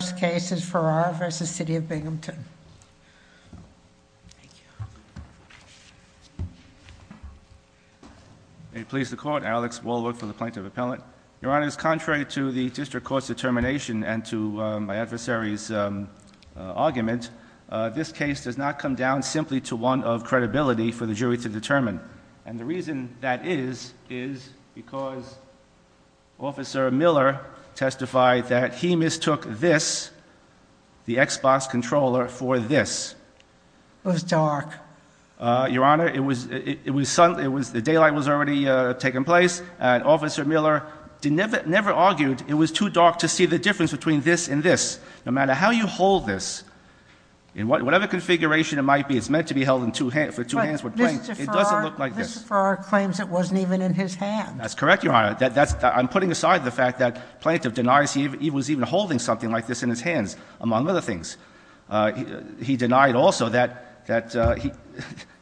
The first case is Farrar v. City of Binghamton. May it please the Court, Alex Walworth for the Plaintiff Appellant. Your Honor, it is contrary to the District Court's determination and to my adversary's argument, this case does not come down simply to one of credibility for the jury to determine. And the reason that is, is because Officer Miller testified that he mistook this, the Xbox controller, for this. It was dark. Your Honor, the daylight was already taking place and Officer Miller never argued it was too dark to see the difference between this and this. No matter how you hold this, in whatever configuration it might be, it's meant to be held for two hands with planks. It doesn't look like this. Mr. Farrar claims it wasn't even in his hands. That's correct, Your Honor. I'm putting aside the fact that Plaintiff denies he was even holding something like this in his hands, among other things. He denied also that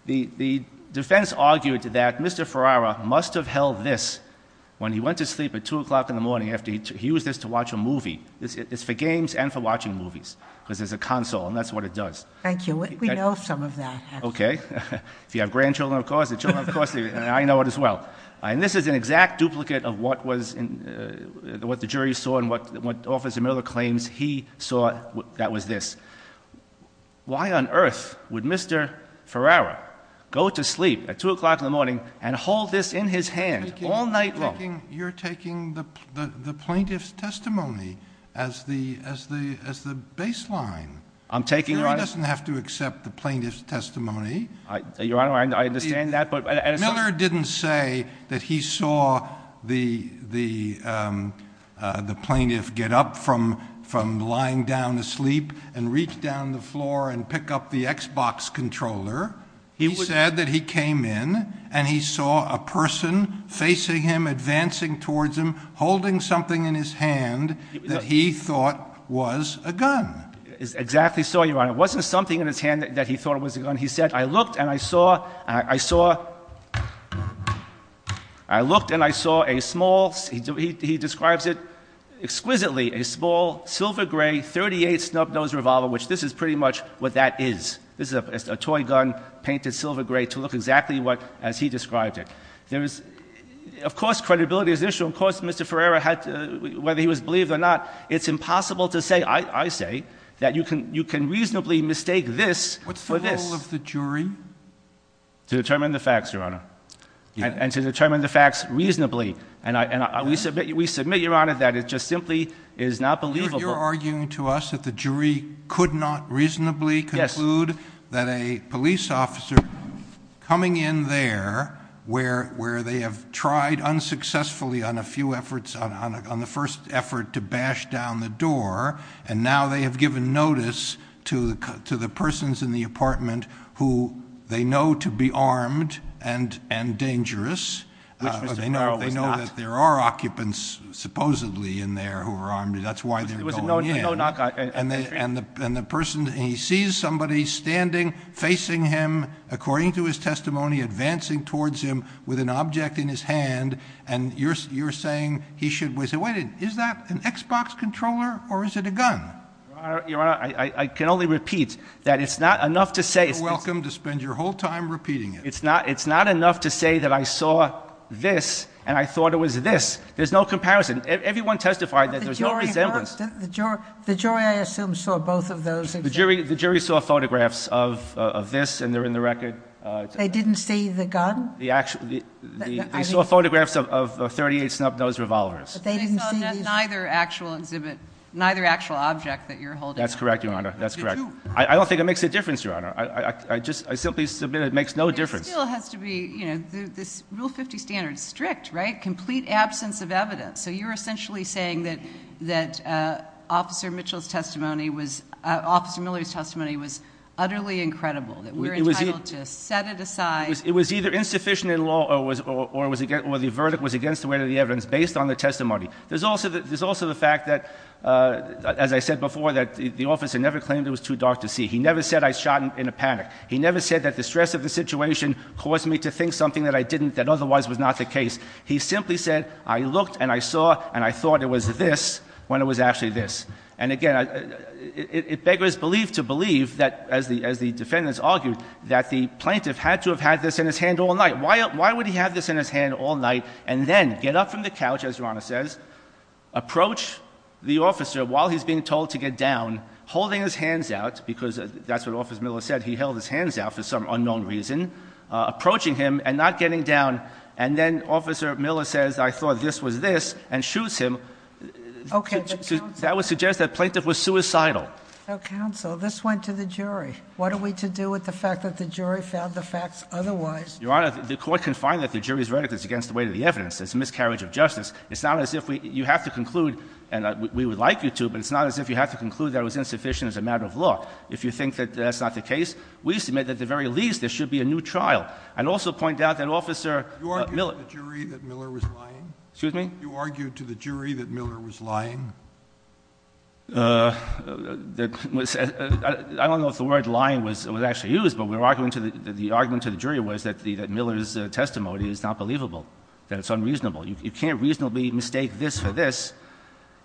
the defense argued that Mr. Farrar must have held this when he went to sleep at 2 o'clock in the morning after he used this to watch a movie. It's for games and for watching movies because it's a console and that's what it does. Thank you. We know some of that. Okay. If you have grandchildren, of course. The children, of course, I know it as well. And this is an exact duplicate of what the jury saw and what Officer Miller claims he saw that was this. Why on earth would Mr. Farrar go to sleep at 2 o'clock in the morning and hold this in his hand all night long? You're taking the Plaintiff's testimony as the baseline. I'm taking— The jury doesn't have to accept the Plaintiff's testimony. Your Honor, I understand that, but— Miller didn't say that he saw the Plaintiff get up from lying down asleep and reach down the floor and pick up the Xbox controller. He said that he came in and he saw a person facing him, advancing towards him, holding something in his hand that he thought was a gun. Exactly so, Your Honor. It wasn't something in his hand that he thought was a gun. He said, I looked and I saw—I saw—I looked and I saw a small—he describes it exquisitely—a small, silver-gray, 38-snub-nose revolver, which this is pretty much what that is. This is a toy gun, painted silver-gray, to look exactly as he described it. There is—of course, credibility is an issue. Of course, Mr. Farrar had to—whether he was believed or not, it's impossible to say. I say that you can reasonably mistake this for this. What's the role of the jury? To determine the facts, Your Honor, and to determine the facts reasonably. And we submit, Your Honor, that it just simply is not believable. You're arguing to us that the jury could not reasonably conclude that a police officer coming in there, where they have tried unsuccessfully on a few efforts, on the first effort to bash down the door, and now they have given notice to the persons in the apartment who they know to be armed and dangerous. Which Mr. Farrar was not. They know that there are occupants, supposedly, in there who are armed. That's why they're going in. It was a no-knock entry. And he sees somebody standing, facing him, according to his testimony, advancing towards him with an object in his hand, and you're saying he should—wait a minute, is that an Xbox controller or is it a gun? Your Honor, I can only repeat that it's not enough to say— You're welcome to spend your whole time repeating it. It's not enough to say that I saw this and I thought it was this. There's no comparison. Everyone testified that there's no resemblance. The jury, I assume, saw both of those. The jury saw photographs of this and they're in the record. They didn't see the gun? They saw photographs of 38 snub-nosed revolvers. But they didn't see these? They saw neither actual exhibit, neither actual object that you're holding. That's correct, Your Honor. That's correct. I don't think it makes a difference, Your Honor. I simply submit it makes no difference. It still has to be—this Rule 50 standard is strict, right? Complete absence of evidence. So you're essentially saying that Officer Mitchell's testimony was— Officer Miller's testimony was utterly incredible, that we're entitled to set it aside— It was either insufficient in law or the verdict was against the weight of the evidence based on the testimony. There's also the fact that, as I said before, that the officer never claimed it was too dark to see. He never said I shot in a panic. He never said that the stress of the situation caused me to think something that I didn't that otherwise was not the case. He simply said I looked and I saw and I thought it was this when it was actually this. And again, it beggars belief to believe that, as the defendants argued, that the plaintiff had to have had this in his hand all night. Why would he have this in his hand all night and then get up from the couch, as Your Honor says, approach the officer while he's being told to get down, holding his hands out, because that's what Officer Miller said, he held his hands out for some unknown reason, approaching him and not getting down. And then Officer Miller says I thought this was this and shoots him. Okay. That would suggest that the plaintiff was suicidal. Now, counsel, this went to the jury. What are we to do with the fact that the jury found the facts otherwise? Your Honor, the court can find that the jury's verdict is against the weight of the evidence. It's a miscarriage of justice. It's not as if you have to conclude, and we would like you to, but it's not as if you have to conclude that it was insufficient as a matter of law. If you think that that's not the case, we submit that at the very least there should be a new trial. I'd also point out that Officer Miller. You argued to the jury that Miller was lying? Excuse me? You argued to the jury that Miller was lying? I don't know if the word lying was actually used, but the argument to the jury was that Miller's testimony is not believable, that it's unreasonable. You can't reasonably mistake this for this.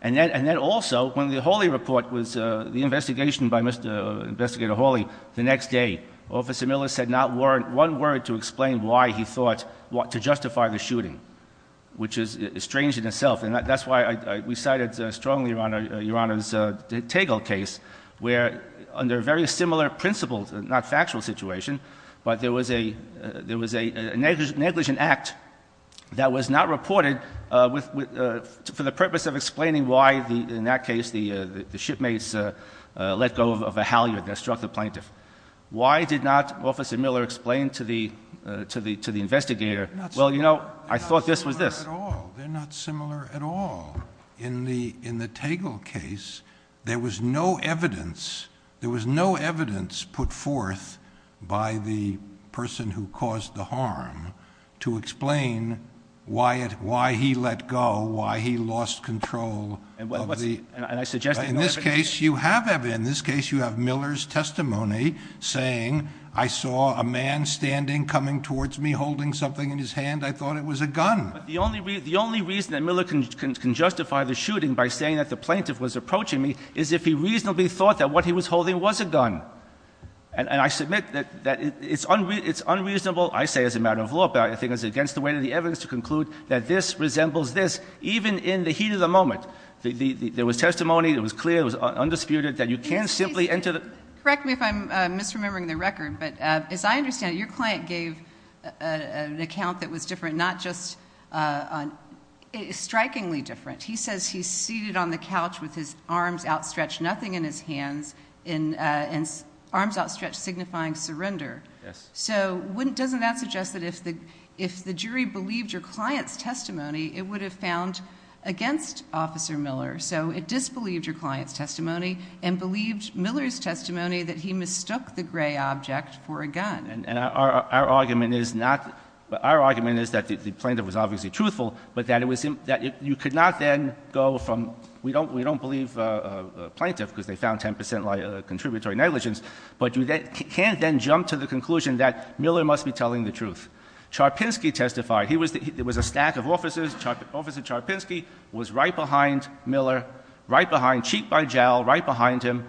And then also, when the Hawley report was the investigation by Investigator Hawley, the next day, Officer Miller said not one word to explain why he thought to justify the shooting, which is strange in itself. And that's why we cited strongly, Your Honor, your Honor's Tegel case, where under very similar principles, not factual situation, but there was a negligent act that was not reported for the purpose of explaining why, in that case, the shipmates let go of a halyard that struck the plaintiff. Why did not Officer Miller explain to the investigator, well, you know, I thought this was this? They're not similar at all. They're not similar at all. But in the Tegel case, there was no evidence. There was no evidence put forth by the person who caused the harm to explain why he let go, why he lost control of the— And I suggest— In this case, you have evidence. In this case, you have Miller's testimony saying, I saw a man standing, coming towards me, holding something in his hand. I thought it was a gun. But the only reason that Miller can justify the shooting by saying that the plaintiff was approaching me is if he reasonably thought that what he was holding was a gun. And I submit that it's unreasonable, I say as a matter of law, but I think it's against the weight of the evidence to conclude that this resembles this, even in the heat of the moment. There was testimony. It was clear. It was undisputed that you can't simply enter the— Correct me if I'm misremembering the record, but as I understand it, your client gave an account that was different, not just—strikingly different. He says he's seated on the couch with his arms outstretched, nothing in his hands, and arms outstretched signifying surrender. Yes. So doesn't that suggest that if the jury believed your client's testimony, it would have found against Officer Miller. So it disbelieved your client's testimony and believed Miller's testimony that he mistook the gray object for a gun. And our argument is not—our argument is that the plaintiff was obviously truthful, but that you could not then go from—we don't believe a plaintiff because they found 10 percent contributory negligence, but you can't then jump to the conclusion that Miller must be telling the truth. Charpinski testified. There was a stack of officers. Officer Charpinski was right behind Miller, right behind—cheek by jowl, right behind him.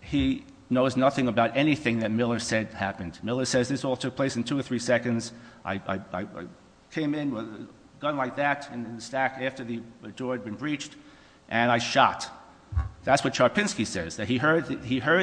He knows nothing about anything that Miller said happened. Miller says this all took place in two or three seconds. I came in with a gun like that in the stack after the door had been breached, and I shot. That's what Charpinski says, that he heard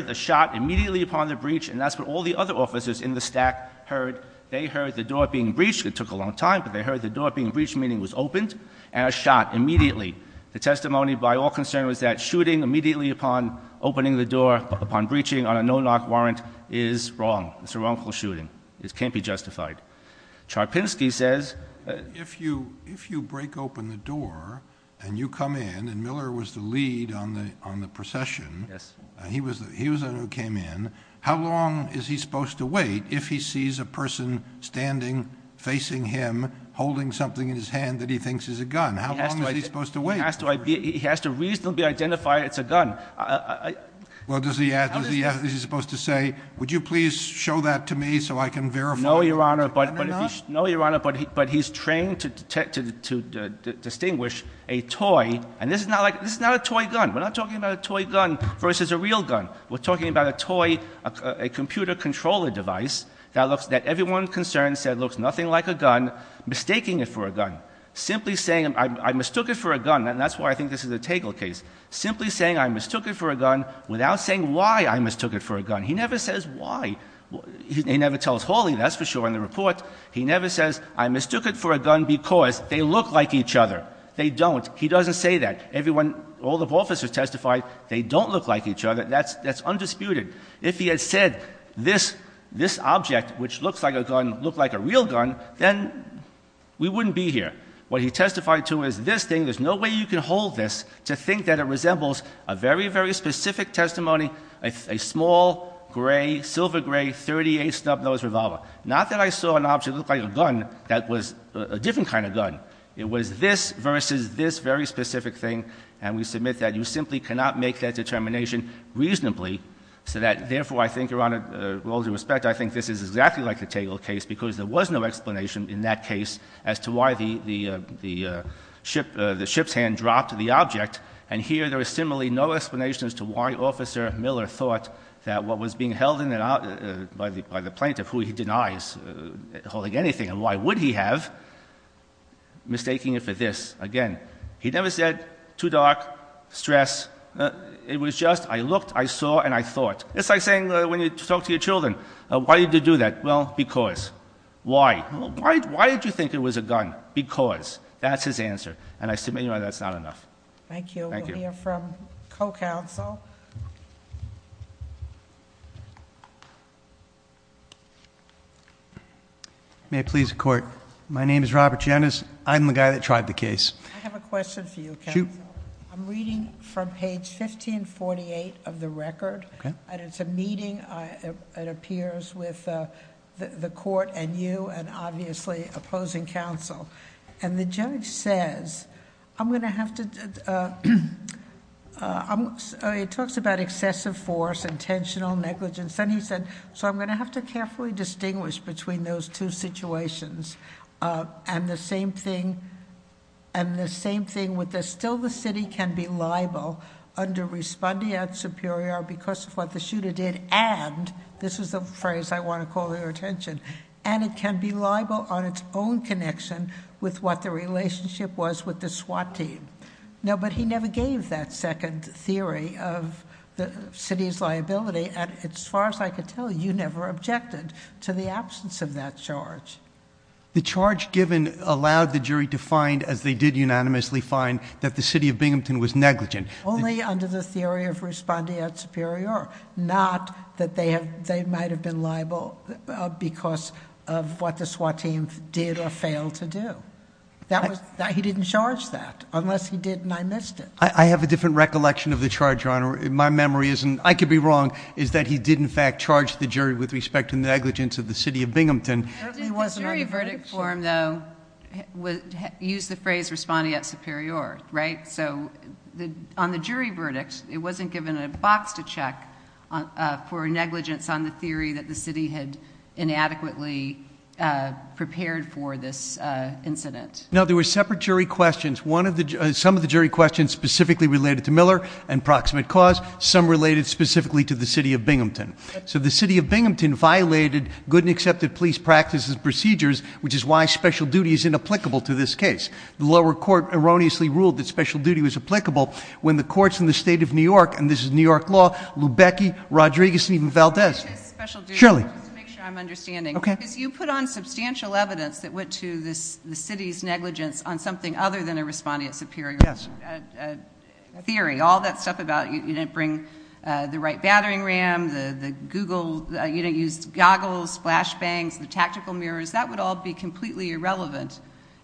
the shot immediately upon the breach, and that's what all the other officers in the stack heard. They heard the door being breached. It took a long time, but they heard the door being breached, meaning it was opened, and I shot immediately. The testimony by all concern was that shooting immediately upon opening the door, upon breaching on a no-knock warrant, is wrong. It's a wrongful shooting. It can't be justified. Charpinski says— If you break open the door and you come in, and Miller was the lead on the procession, and he was the one who came in, how long is he supposed to wait if he sees a person standing, facing him, holding something in his hand that he thinks is a gun? How long is he supposed to wait? He has to reasonably identify it's a gun. Well, is he supposed to say, would you please show that to me so I can verify? No, Your Honor, but he's trained to distinguish a toy, and this is not a toy gun. We're not talking about a toy gun versus a real gun. We're talking about a toy, a computer controller device that everyone concerned said looks nothing like a gun, mistaking it for a gun. Simply saying, I mistook it for a gun, and that's why I think this is a Tegel case. Simply saying, I mistook it for a gun, without saying why I mistook it for a gun. He never says why. He never tells Hawley. That's for sure in the report. He never says, I mistook it for a gun because they look like each other. They don't. He doesn't say that. Everyone—all the officers testified they don't look like each other. That's undisputed. If he had said this object, which looks like a gun, looked like a real gun, then we wouldn't be here. What he testified to is this thing. There's no way you can hold this to think that it resembles a very, very specific testimony, a small, gray, silver-gray .38 snub-nose revolver. Not that I saw an object that looked like a gun that was a different kind of gun. It was this versus this very specific thing, and we submit that you simply cannot make that determination reasonably, so that, therefore, I think, Your Honor, with all due respect, I think this is exactly like a Tegel case where the ship's hand dropped the object, and here there is similarly no explanation as to why Officer Miller thought that what was being held in and out by the plaintiff, who he denies holding anything, and why would he have, mistaking it for this again. He never said, too dark, stress. It was just, I looked, I saw, and I thought. It's like saying when you talk to your children, why did you do that? Well, because. Why? Why did you think it was a gun? Because. That's his answer, and I submit, Your Honor, that's not enough. Thank you. Thank you. We'll hear from co-counsel. May it please the Court. My name is Robert Janus. I'm the guy that tried the case. I have a question for you, counsel. Shoot. I'm reading from page 1548 of the record. Okay. And it's a meeting, it appears, with the court and you and, obviously, opposing counsel. And the judge says, I'm going to have to, it talks about excessive force, intentional negligence. And he said, so I'm going to have to carefully distinguish between those two situations. And the same thing, and the same thing with this. Still the city can be liable under respondeat superior because of what the shooter did, and, this is the phrase I want to call your attention, and it can be liable on its own connection with what the relationship was with the SWAT team. No, but he never gave that second theory of the city's liability, and as far as I could tell, you never objected to the absence of that charge. The charge given allowed the jury to find, as they did unanimously find, that the city of Binghamton was negligent. Only under the theory of respondeat superior. Not that they might have been liable because of what the SWAT team did or failed to do. He didn't charge that, unless he did and I missed it. I have a different recollection of the charge, Your Honor. My memory isn't, I could be wrong, is that he did, in fact, charge the jury with respect to negligence of the city of Binghamton. The jury verdict for him, though, used the phrase respondeat superior, right? So on the jury verdict, it wasn't given a box to check for negligence on the theory that the city had inadequately prepared for this incident. No, there were separate jury questions. Some of the jury questions specifically related to Miller and proximate cause. Some related specifically to the city of Binghamton. So the city of Binghamton violated good and accepted police practices procedures, which is why special duty is inapplicable to this case. The lower court erroneously ruled that special duty was applicable when the courts in the state of New York, and this is New York law, Lubecki, Rodriguez, and even Valdez. Surely. To make sure I'm understanding. Okay. Because you put on substantial evidence that went to the city's negligence on something other than a respondeat superior. Yes. Theory, all that stuff about you didn't bring the right battering ram, the Google, you didn't use goggles, flash bangs, the tactical mirrors. That would all be completely irrelevant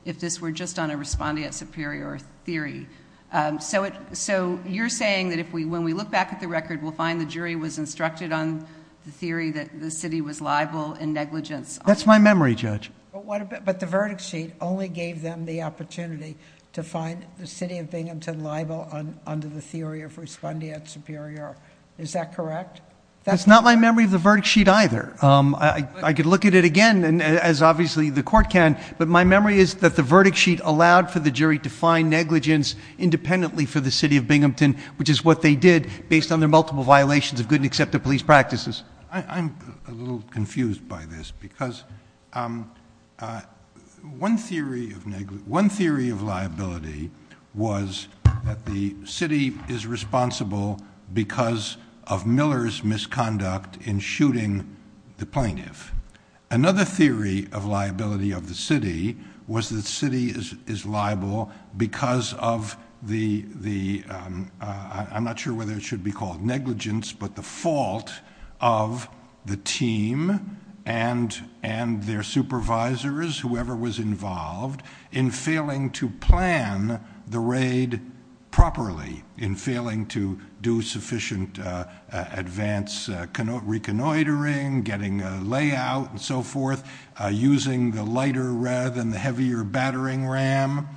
if this were just on a respondeat superior theory. So you're saying that if we, when we look back at the record, we'll find the jury was instructed on the theory that the city was liable in negligence. That's my memory, Judge. But the verdict sheet only gave them the opportunity to find the city of Binghamton liable under the theory of respondeat superior. Is that correct? That's not my memory of the verdict sheet either. I could look at it again, as obviously the court can, but my memory is that the verdict sheet allowed for the jury to find negligence independently for the city of Binghamton, which is what they did based on their multiple violations of good and accepted police practices. I'm a little confused by this because one theory of negligence, one theory of liability was that the city is responsible because of Miller's misconduct in shooting the plaintiff. Another theory of liability of the city was the city is liable because of the the. I'm not sure whether it should be called negligence, but the fault of the team and and their supervisors, whoever was involved in failing to plan the raid properly in failing to do sufficient advance reconnoitering, getting a layout and so forth, using the lighter rather than the heavier battering ram.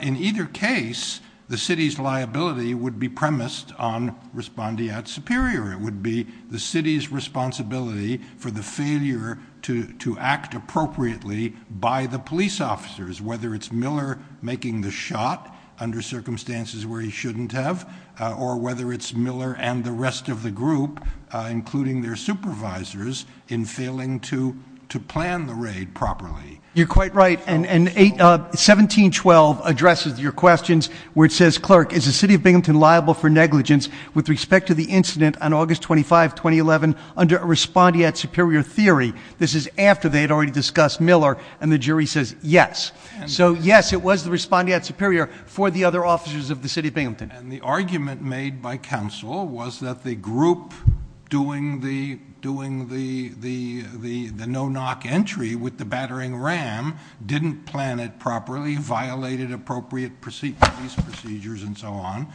In either case, the city's liability would be premised on respondeat superior. It would be the city's responsibility for the failure to to act appropriately by the police officers, whether it's Miller making the shot under circumstances where he shouldn't have, or whether it's Miller and the rest of the group, including their supervisors, in failing to to plan the raid properly. You're quite right, and 1712 addresses your questions where it says, Clerk, is the city of Binghamton liable for negligence with respect to the incident on August 25, 2011, under a respondeat superior theory? This is after they had already discussed Miller, and the jury says yes. So yes, it was the respondeat superior for the other officers of the city of Binghamton. And the argument made by counsel was that the group doing the no-knock entry with the battering ram didn't plan it properly, violated appropriate police procedures, and so on.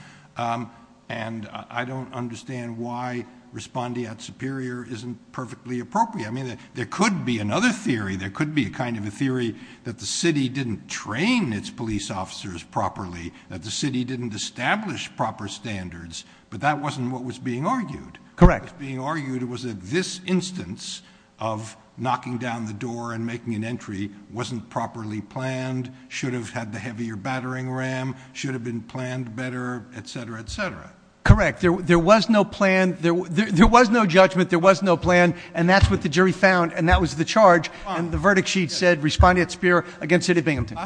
And I don't understand why respondeat superior isn't perfectly appropriate. I mean, there could be another theory. There could be a kind of a theory that the city didn't train its police officers properly, that the city didn't establish proper standards, but that wasn't what was being argued. Correct. What was being argued was that this instance of knocking down the door and making an entry wasn't properly planned, should have had the heavier battering ram, should have been planned better, et cetera, et cetera. Correct. There was no plan. There was no judgment. There was no plan. And that's what the jury found, and that was the charge. And the verdict sheet said respondeat superior against city of Binghamton.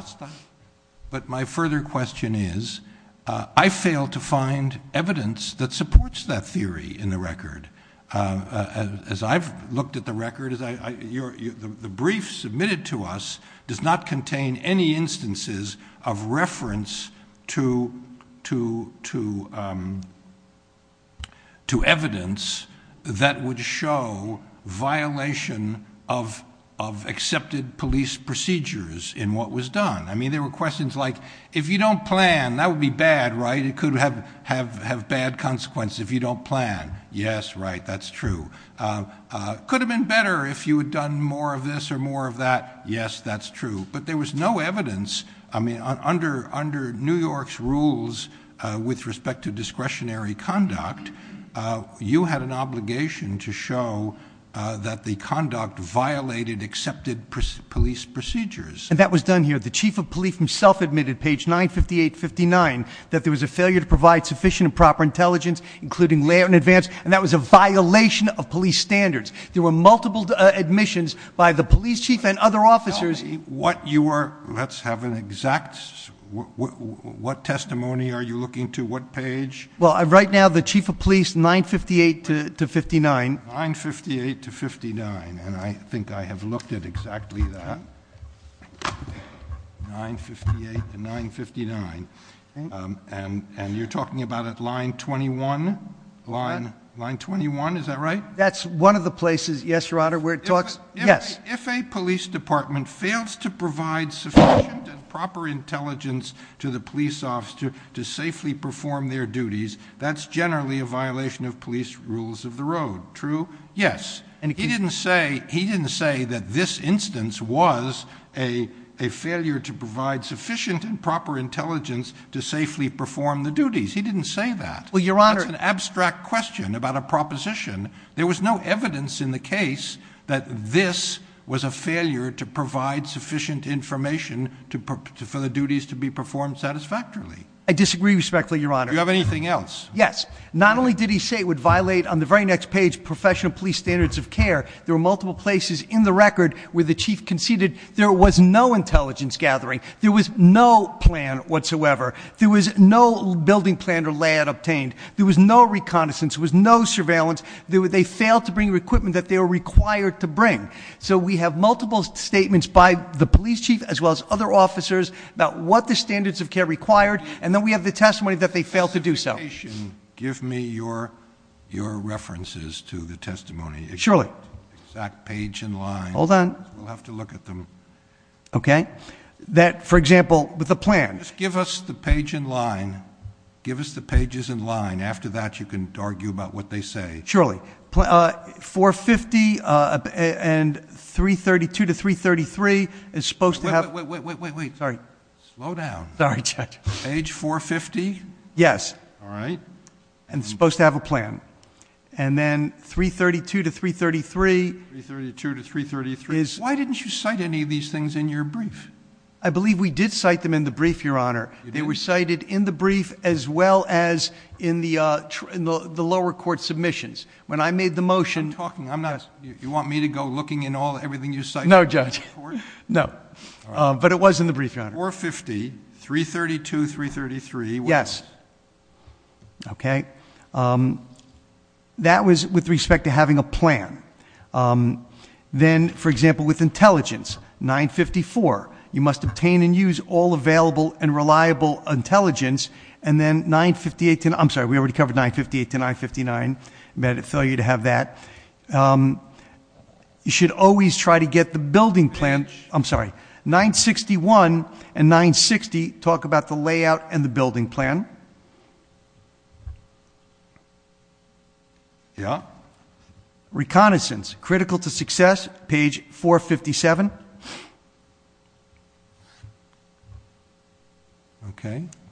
But my further question is, I failed to find evidence that supports that theory in the record. As I've looked at the record, the brief submitted to us does not contain any instances of reference to evidence that would show violation of accepted police procedures in what was done. I mean, there were questions like, if you don't plan, that would be bad, right? It could have bad consequences if you don't plan. Yes, right. That's true. Could have been better if you had done more of this or more of that. Yes, that's true. But there was no evidence. I mean, under New York's rules with respect to discretionary conduct, you had an obligation to show that the conduct violated accepted police procedures. And that was done here. The chief of police himself admitted, page 958-59, that there was a failure to provide sufficient and proper intelligence, including lay out in advance, and that was a violation of police standards. There were multiple admissions by the police chief and other officers. Let's have an exact. What testimony are you looking to? What page? Well, right now, the chief of police, 958-59. 958-59. And I think I have looked at exactly that. 958 and 959. And you're talking about at line 21? Line 21, is that right? That's one of the places, yes, your honor, where it talks. Yes. If a police department fails to provide sufficient and proper intelligence to the police officer to safely perform their duties, that's generally a violation of police rules of the road. True? Yes. He didn't say that this instance was a failure to provide sufficient and proper intelligence to safely perform the duties. He didn't say that. That's an abstract question about a proposition. There was no evidence in the case that this was a failure to provide sufficient information for the duties to be performed satisfactorily. I disagree, respectfully, your honor. Do you have anything else? Yes. Not only did he say it would violate, on the very next page, professional police standards of care, there were multiple places in the record where the chief conceded there was no intelligence gathering. There was no plan whatsoever. There was no building plan or layout obtained. There was no reconnaissance. There was no surveillance. They failed to bring the equipment that they were required to bring. So we have multiple statements by the police chief as well as other officers about what the standards of care required, and then we have the testimony that they failed to do so. If you'll be patient, give me your references to the testimony. Surely. Exact page and line. Hold on. We'll have to look at them. Okay. That, for example, with a plan. Just give us the page and line. Give us the pages and line. After that, you can argue about what they say. Surely. 450 and 332 to 333 is supposed to have... Wait, wait, wait, wait, wait, wait. Sorry. Slow down. Sorry, Judge. Page 450? Yes. All right. And it's supposed to have a plan. And then 332 to 333... 332 to 333.... is... Why didn't you cite any of these things in your brief? I believe we did cite them in the brief, Your Honor. You did? They were cited in the brief as well as in the lower court submissions. When I made the motion... You're talking. I'm not... You want me to go looking in everything you cite in the lower court? No, Judge. No. But it was in the brief, Your Honor. 450, 332, 333... Yes. Okay. That was with respect to having a plan. Then, for example, with intelligence, 954. You must obtain and use all available and reliable intelligence. And then 958 to... I'm sorry. We already covered 958 to 959. I meant to tell you to have that. You should always try to get the building plan... I'm sorry. 961 and 960 talk about the layout and the building plan. Yeah. Reconnaissance, critical to success, page 457.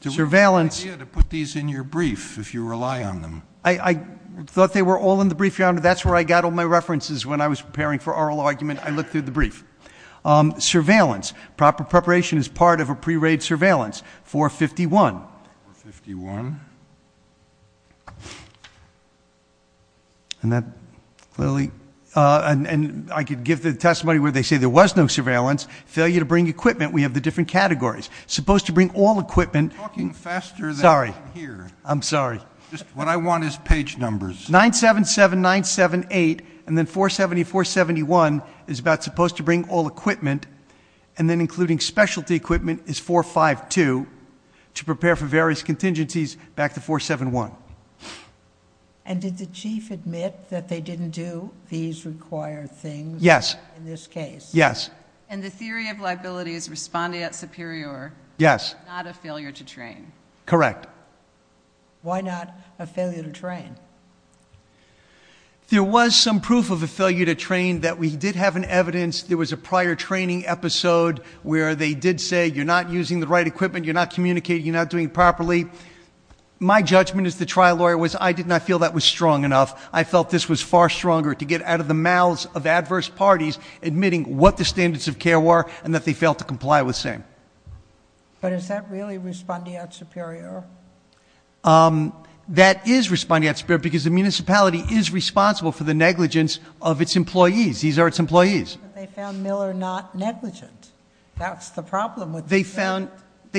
Surveillance... It would be a good idea to put these in your brief if you rely on them. I thought they were all in the brief, Your Honor. That's where I got all my references when I was preparing for oral argument. I looked through the brief. Surveillance... Proper preparation is part of a pre-raid surveillance. 451... 451... And that clearly... And I could give the testimony where they say there was no surveillance. Failure to bring equipment. We have the different categories. Supposed to bring all equipment... You're talking faster than I'm here. Sorry. I'm sorry. What I want is page numbers. 977, 978, and then 470, 471 is about supposed to bring all equipment, and then including specialty equipment is 452 to prepare for various contingencies back to 471. And did the Chief admit that they didn't do these required things... Yes.... in this case? Yes. And the theory of liabilities responding at Superior... Yes.... is not a failure to train. Correct. Why not a failure to train? There was some proof of a failure to train that we did have an evidence. There was a prior training episode where they did say, you're not using the right equipment, you're not communicating, you're not doing it properly. My judgment as the trial lawyer was I did not feel that was strong enough. I felt this was far stronger to get out of the mouths of adverse parties admitting what the standards of care were and that they failed to comply with same. But is that really responding at Superior? That is responding at Superior because the municipality is responsible for the negligence of its employees. These are its employees. But they found Miller not negligent. That's the problem with... They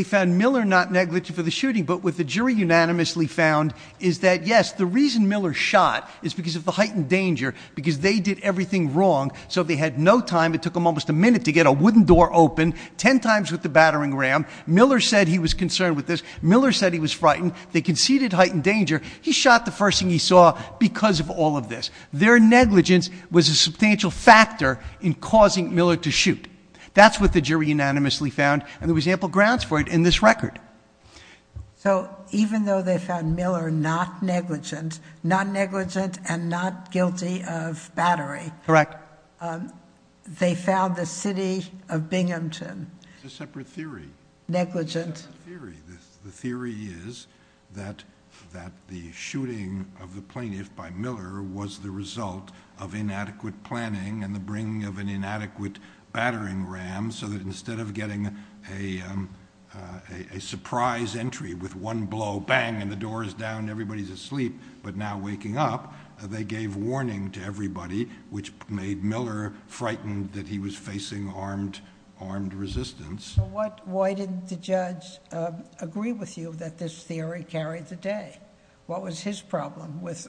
found Miller not negligent for the shooting, but what the jury unanimously found is that, yes, the reason Miller shot is because of the heightened danger, because they did everything wrong. So they had no time, it took them almost a minute to get a wooden door open, 10 times with the battering ram. Miller said he was concerned with this. Miller said he was frightened. They conceded heightened danger. He shot the first thing he saw because of all of this. Their negligence was a substantial factor in causing Miller to shoot. That's what the jury unanimously found, and there was ample grounds for it in this record. So even though they found Miller not negligent, not negligent and not guilty of battery... Correct. They found the city of Binghamton... It's a separate theory.... negligent. It's a separate theory. The theory is that the shooting of the plaintiff by Miller was the result of inadequate planning and the bringing of an inadequate battering ram so that instead of getting a surprise entry with one blow, bang, and the door is down and everybody's asleep but now waking up, they gave warning to everybody, which made Miller frightened that he was facing armed resistance. Why didn't the judge agree with you that this theory carried the day? What was his problem with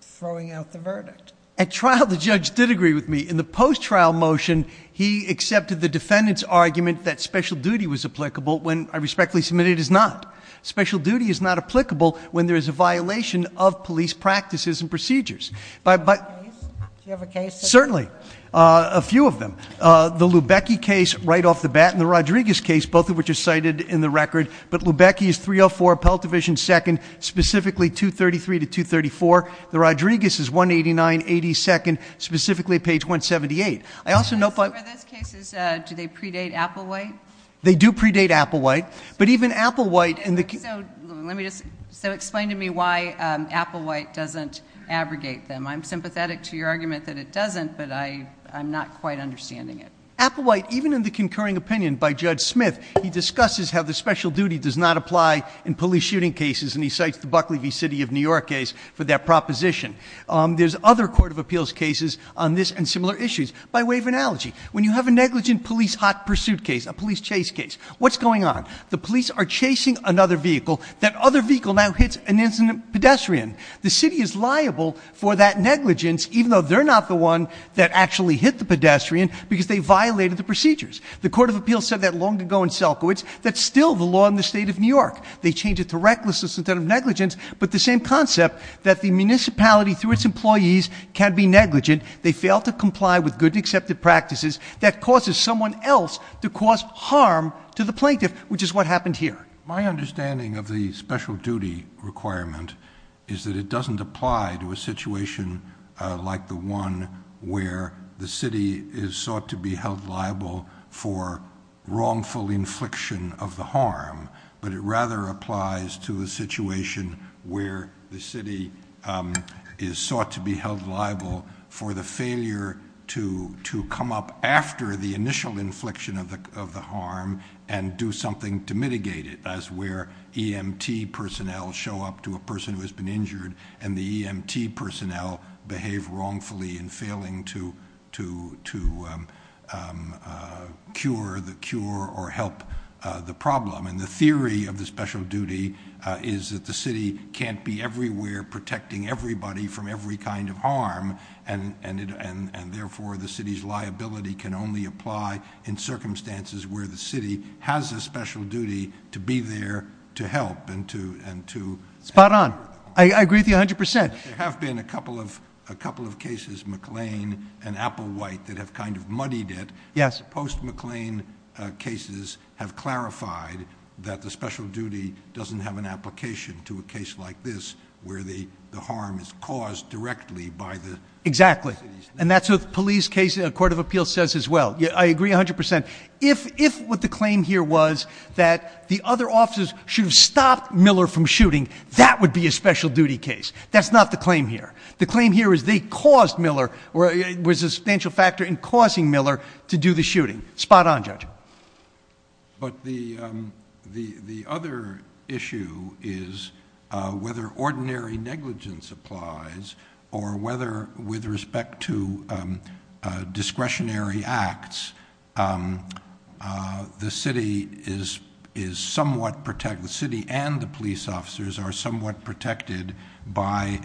throwing out the verdict? At trial, the judge did agree with me. In the post-trial motion, he accepted the defendant's argument that special duty was applicable when I respectfully submit it is not. Special duty is not applicable when there is a violation of police practices and procedures. Do you have a case? Certainly. A few of them. The Lubecki case right off the bat and the Rodriguez case, both of which are cited in the record, but Lubecki is 304 Appellate Division 2nd, specifically 233 to 234. The Rodriguez is 189 82nd, specifically page 178. Some of those cases, do they predate Applewhite? They do predate Applewhite, but even Applewhite in the case. So explain to me why Applewhite doesn't abrogate them. I'm sympathetic to your argument that it doesn't, but I'm not quite understanding it. Applewhite, even in the concurring opinion by Judge Smith, he discusses how the special duty does not apply in police shooting cases, and he cites the Buckley v. City of New York case for that proposition. There's other court of appeals cases on this and similar issues. By way of analogy, when you have a negligent police hot pursuit case, a police chase case, what's going on? The police are chasing another vehicle. That other vehicle now hits an incident pedestrian. The city is liable for that negligence, even though they're not the one that actually hit the pedestrian because they violated the procedures. The court of appeals said that long ago in Selkowitz. That's still the law in the state of New York. They change it to recklessness instead of negligence, but the same concept that the municipality, through its employees, can be negligent. They fail to comply with good and accepted practices. That causes someone else to cause harm to the plaintiff, which is what happened here. My understanding of the special duty requirement is that it doesn't apply to a situation like the one where the city is sought to be held liable for wrongful infliction of the harm, but it rather applies to a situation where the city is sought to be held liable for the failure to come up after the initial infliction of the harm and do something to mitigate it. That's where EMT personnel show up to a person who has been injured and the EMT personnel behave wrongfully in failing to cure or help the problem. The theory of the special duty is that the city can't be everywhere protecting everybody from every kind of harm, and therefore the city's liability can only apply in circumstances where the city has a special duty to be there to help. Spot on. I agree with you 100%. There have been a couple of cases, McLean and Applewhite, that have kind of muddied it. Post-McLean cases have clarified that the special duty doesn't have an application to a case like this where the harm is caused directly by the city's liability. Exactly, and that's what the police case, the Court of Appeal, says as well. I agree 100%. If what the claim here was that the other officers should have stopped Miller from shooting, that would be a special duty case. That's not the claim here. The claim here is they caused Miller, Spot on, Judge. But the other issue is whether ordinary negligence applies or whether, with respect to discretionary acts, the city and the police officers are somewhat protected by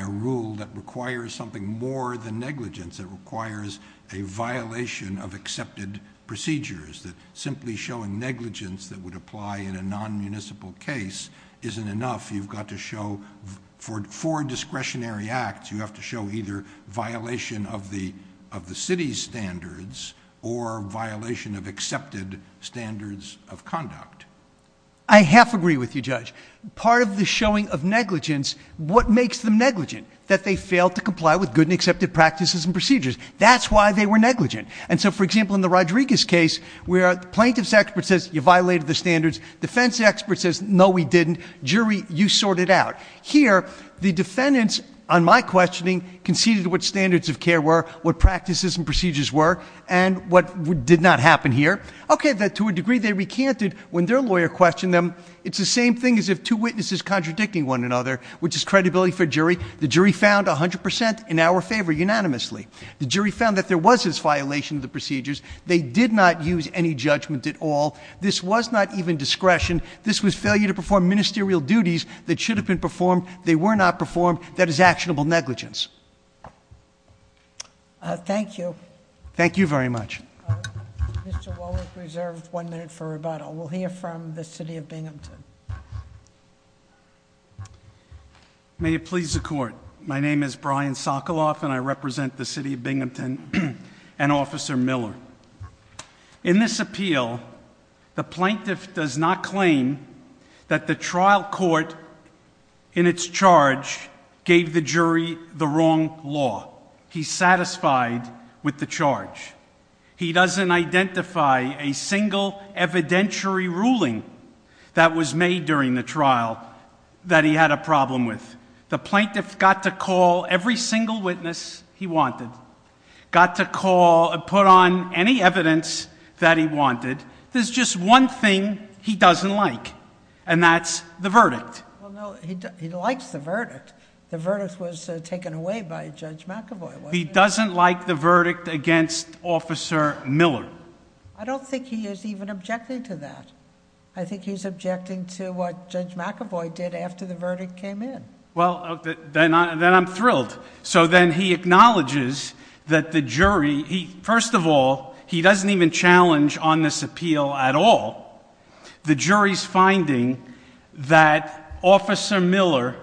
a rule that requires something more than negligence. It requires a violation of accepted procedures. Simply showing negligence that would apply in a non-municipal case isn't enough. You've got to show, for discretionary acts, you have to show either violation of the city's standards or violation of accepted standards of conduct. I half agree with you, Judge. Part of the showing of negligence, what makes them negligent? That they fail to comply with good and accepted practices and procedures. That's why they were negligent. For example, in the Rodriguez case, plaintiff's expert says you violated the standards. Defense expert says, no, we didn't. Jury, you sort it out. Here, the defendants, on my questioning, conceded what standards of care were, what practices and procedures were, and what did not happen here. To a degree, they recanted. When their lawyer questioned them, it's the same thing as if two witnesses contradicting one another, which is credibility for jury. The jury found 100% in our favor unanimously. The jury found that there was this violation of the procedures. They did not use any judgment at all. This was not even discretion. This was failure to perform ministerial duties that should have been performed. They were not performed. That is actionable negligence. Thank you. Thank you very much. Mr. Wallach reserved one minute for rebuttal. We'll hear from the city of Binghamton. May it please the court. My name is Brian Sokoloff, and I represent the city of Binghamton and Officer Miller. In this appeal, the plaintiff does not claim that the trial court, in its charge, gave the jury the wrong law. He's satisfied with the charge. He doesn't identify a single evidentiary ruling that was made during the trial that he had a problem with. The plaintiff got to call every single witness he wanted, got to call and put on any evidence that he wanted. There's just one thing he doesn't like, and that's the verdict. Well, no, he likes the verdict. The verdict was taken away by Judge McEvoy, wasn't it? He doesn't like the verdict against Officer Miller. I don't think he is even objecting to that. I think he's objecting to what Judge McEvoy did after the verdict came in. Well, then I'm thrilled. So then he acknowledges that the jury... First of all, he doesn't even challenge on this appeal at all. The jury's finding that Officer Miller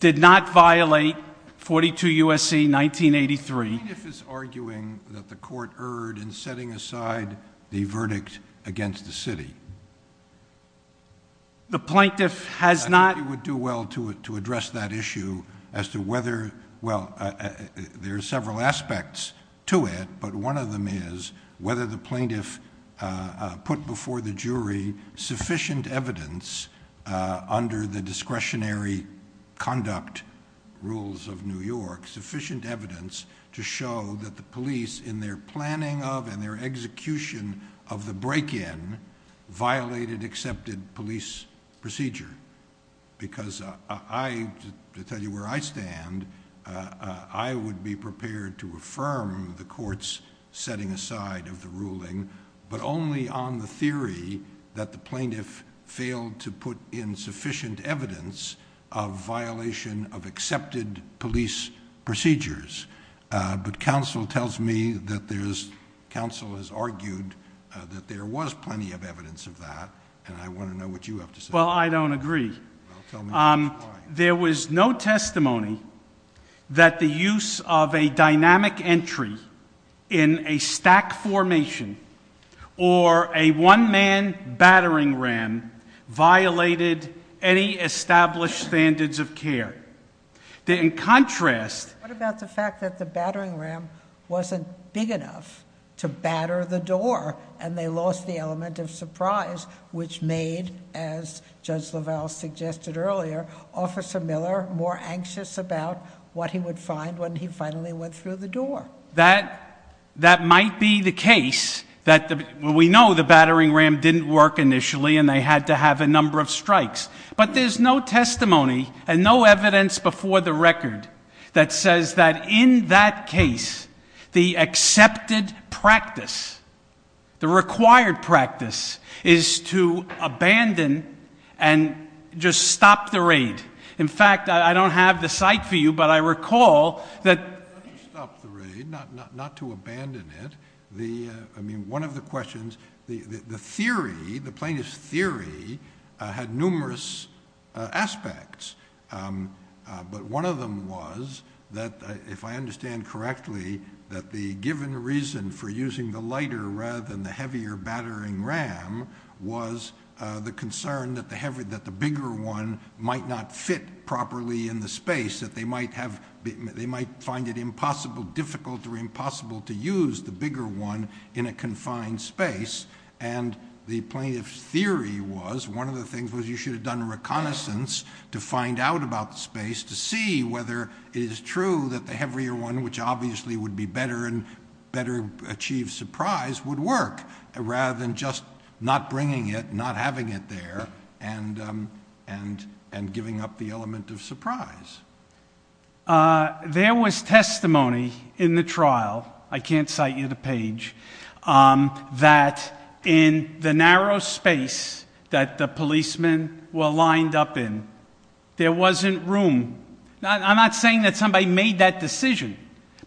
did not violate 42 U.S.C. 1983. The plaintiff is arguing that the court erred in setting aside the verdict against the city. The plaintiff has not... I think it would do well to address that issue as to whether... Well, there are several aspects to it, but one of them is whether the plaintiff put before the jury sufficient evidence under the discretionary conduct rules of New York, sufficient evidence to show that the police, in their planning of and their execution of the break-in, violated accepted police procedure. Because I, to tell you where I stand, I would be prepared to affirm the court's setting aside of the ruling, but only on the theory that the plaintiff failed to put in sufficient evidence of violation of accepted police procedures. But counsel tells me that there's... Counsel has argued that there was plenty of evidence of that, and I want to know what you have to say. Well, I don't agree. There was no testimony that the use of a dynamic entry in a stack formation or a one-man battering ram violated any established standards of care. In contrast... What about the fact that the battering ram wasn't big enough to batter the door and they lost the element of surprise, which made, as Judge LaValle suggested earlier, Officer Miller more anxious about what he would find when he finally went through the door? That might be the case. We know the battering ram didn't work initially and they had to have a number of strikes. But there's no testimony and no evidence before the record that says that in that case, the accepted practice, the required practice, is to abandon and just stop the raid. In fact, I don't have the cite for you, but I recall that... Not to stop the raid, not to abandon it. One of the questions... The theory, the plaintiff's theory, had numerous aspects. But one of them was that, if I understand correctly, that the given reason for using the lighter rather than the heavier battering ram was the concern that the bigger one might not fit properly in the space, that they might find it impossible, difficult or impossible to use the bigger one in a confined space. And the plaintiff's theory was, one of the things was you should have done a reconnaissance to find out about the space to see whether it is true that the heavier one, which obviously would be better and better achieve surprise, would work, rather than just not bringing it, not having it there, and giving up the element of surprise. There was testimony in the trial, I can't cite you the page, that in the narrow space that the policemen were lined up in, there wasn't room... I'm not saying that somebody made that decision,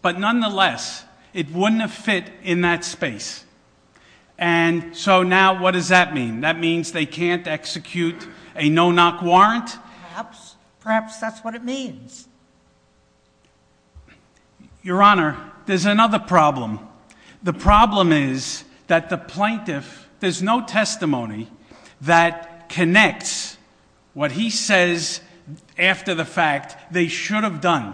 but nonetheless, it wouldn't have fit in that space. And so now what does that mean? That means they can't execute a no-knock warrant? Perhaps. Perhaps that's what it means. Your Honour, there's another problem. The problem is that the plaintiff... There's no testimony that connects what he says after the fact they should have done.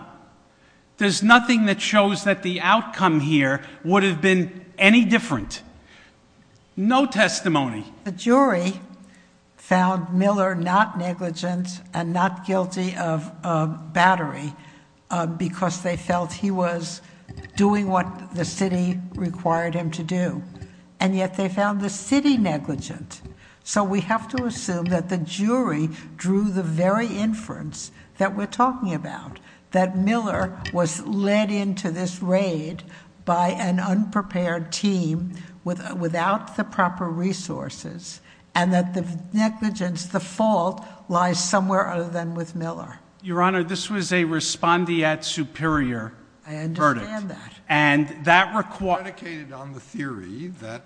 There's nothing that shows that the outcome here would have been any different. No testimony. The jury found Miller not negligent and not guilty of battery because they felt he was doing what the city required him to do, and yet they found the city negligent. So we have to assume that the jury drew the very inference that we're talking about, that Miller was led into this raid by an unprepared team without the proper resources, and that the negligence, the fault, lies somewhere other than with Miller. Your Honour, this was a respondeat superior verdict. I understand that. And that requires... ...dedicated on the theory that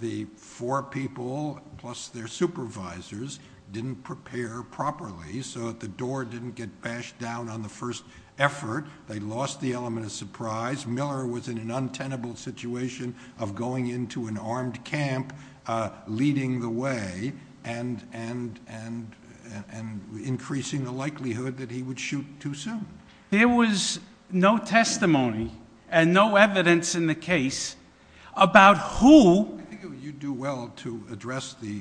the four people, plus their supervisors, didn't prepare properly so that the door didn't get bashed down on the first effort. They lost the element of surprise. Miller was in an untenable situation of going into an armed camp, leading the way, and increasing the likelihood that he would shoot too soon. There was no testimony and no evidence in the case about who... I think you'd do well to address the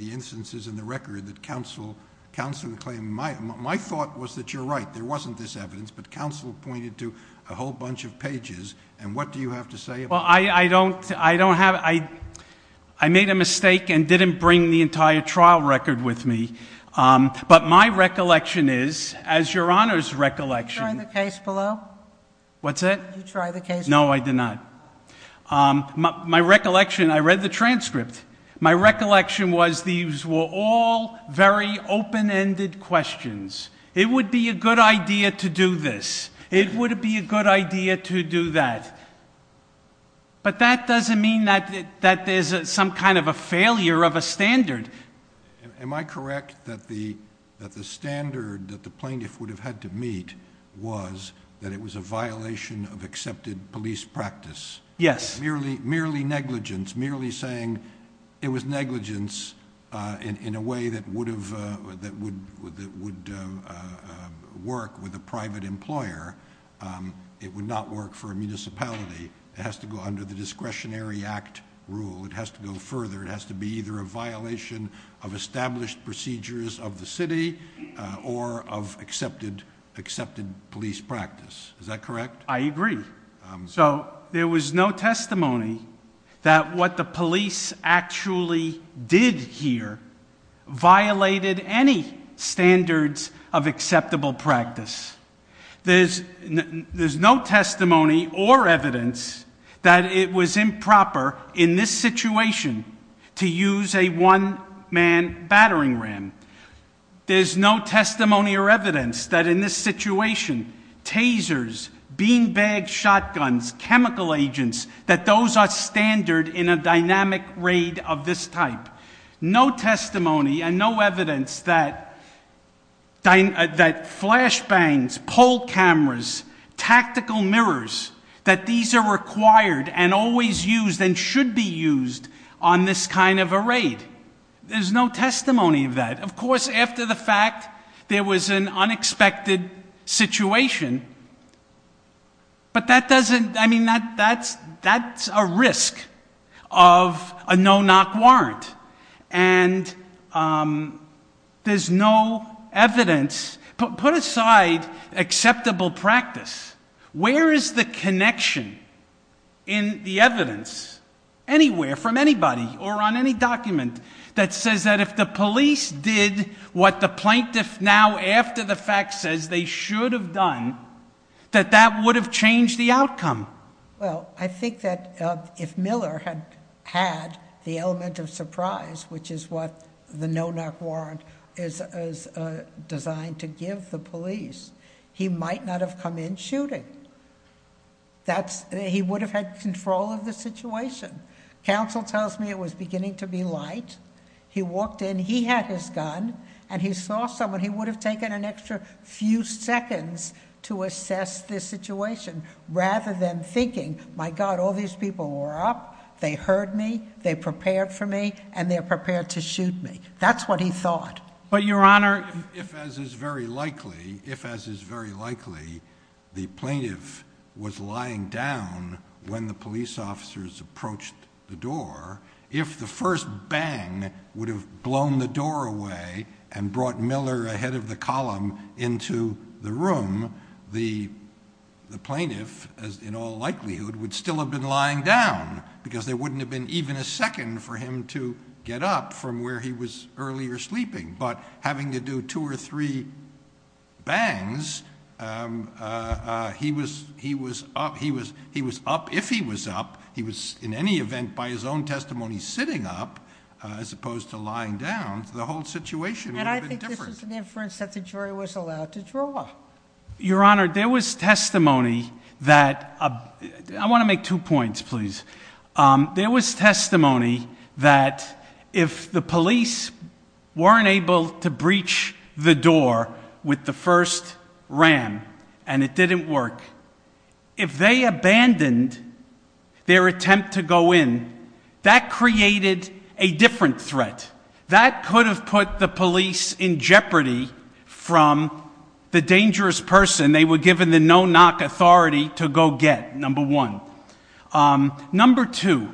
instances in the record that counsel claimed. My thought was that you're right, there wasn't this evidence, but counsel pointed to a whole bunch of pages, and what do you have to say about that? Well, I don't have... I made a mistake and didn't bring the entire trial record with me, but my recollection is, as Your Honour's recollection... Did you try the case below? What's that? Did you try the case below? No, I did not. My recollection... I read the transcript. My recollection was these were all very open-ended questions. It would be a good idea to do this. It would be a good idea to do that. But that doesn't mean that there's some kind of a failure of a standard. Am I correct that the standard that the plaintiff would have had to meet was that it was a violation of accepted police practice? Yes. Merely negligence, merely saying it was negligence in a way that would work with a private employer. It would not work for a municipality. It has to go under the Discretionary Act rule. It has to go further. It has to be either a violation of established procedures of the city or of accepted police practice. Is that correct? I agree. So there was no testimony that what the police actually did here violated any standards of acceptable practice. There's no testimony or evidence that it was improper in this situation to use a one-man battering ram. There's no testimony or evidence that in this situation tasers, beanbag shotguns, chemical agents, that those are standard in a dynamic raid of this type. No testimony and no evidence that flash bangs, pole cameras, tactical mirrors, that these are required and always used and should be used on this kind of a raid. There's no testimony of that. Of course, after the fact, there was an unexpected situation. But that doesn't, I mean, that's a risk of a no-knock warrant. And there's no evidence. Put aside acceptable practice. Where is the connection in the evidence anywhere from anybody or on any document that says that if the police did what the plaintiff now after the fact says they should have done, that that would have changed the outcome? Well, I think that if Miller had had the element of surprise, which is what the no-knock warrant is designed to give the police, he might not have come in shooting. He would have had control of the situation. Counsel tells me it was beginning to be light. He walked in, he had his gun, and he saw someone. He would have taken an extra few seconds to assess this situation rather than thinking, my God, all these people were up, they heard me, they prepared for me, and they're prepared to shoot me. That's what he thought. But, Your Honor. If, as is very likely, if, as is very likely, the plaintiff was lying down when the police officers approached the door, if the first bang would have blown the door away and brought Miller ahead of the column into the room, the plaintiff, in all likelihood, would still have been lying down because there wouldn't have been even a second for him to get up from where he was earlier sleeping. But having to do two or three bangs, he was up if he was up. He was, in any event, by his own testimony, sitting up as opposed to lying down. The whole situation would have been different. And I think this is an inference that the jury was allowed to draw. Your Honor, there was testimony that, I want to make two points, please. There was testimony that if the police weren't able to breach the door with the first ram and it didn't work, if they abandoned their attempt to go in, that created a different threat. That could have put the police in jeopardy from the dangerous person they were given the no-knock authority to go get, number one. Number two,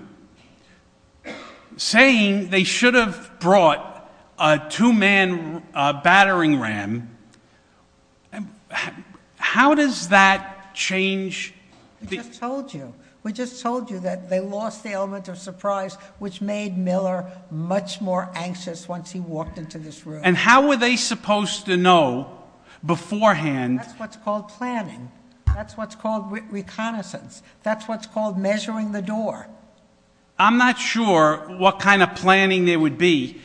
saying they should have brought a two-man battering ram, how does that change? We just told you. We just told you that they lost the element of surprise, which made Miller much more anxious once he walked into this room. And how were they supposed to know beforehand? That's what's called planning. That's what's called reconnaissance. That's what's called measuring the door. I'm not sure what kind of planning there would be.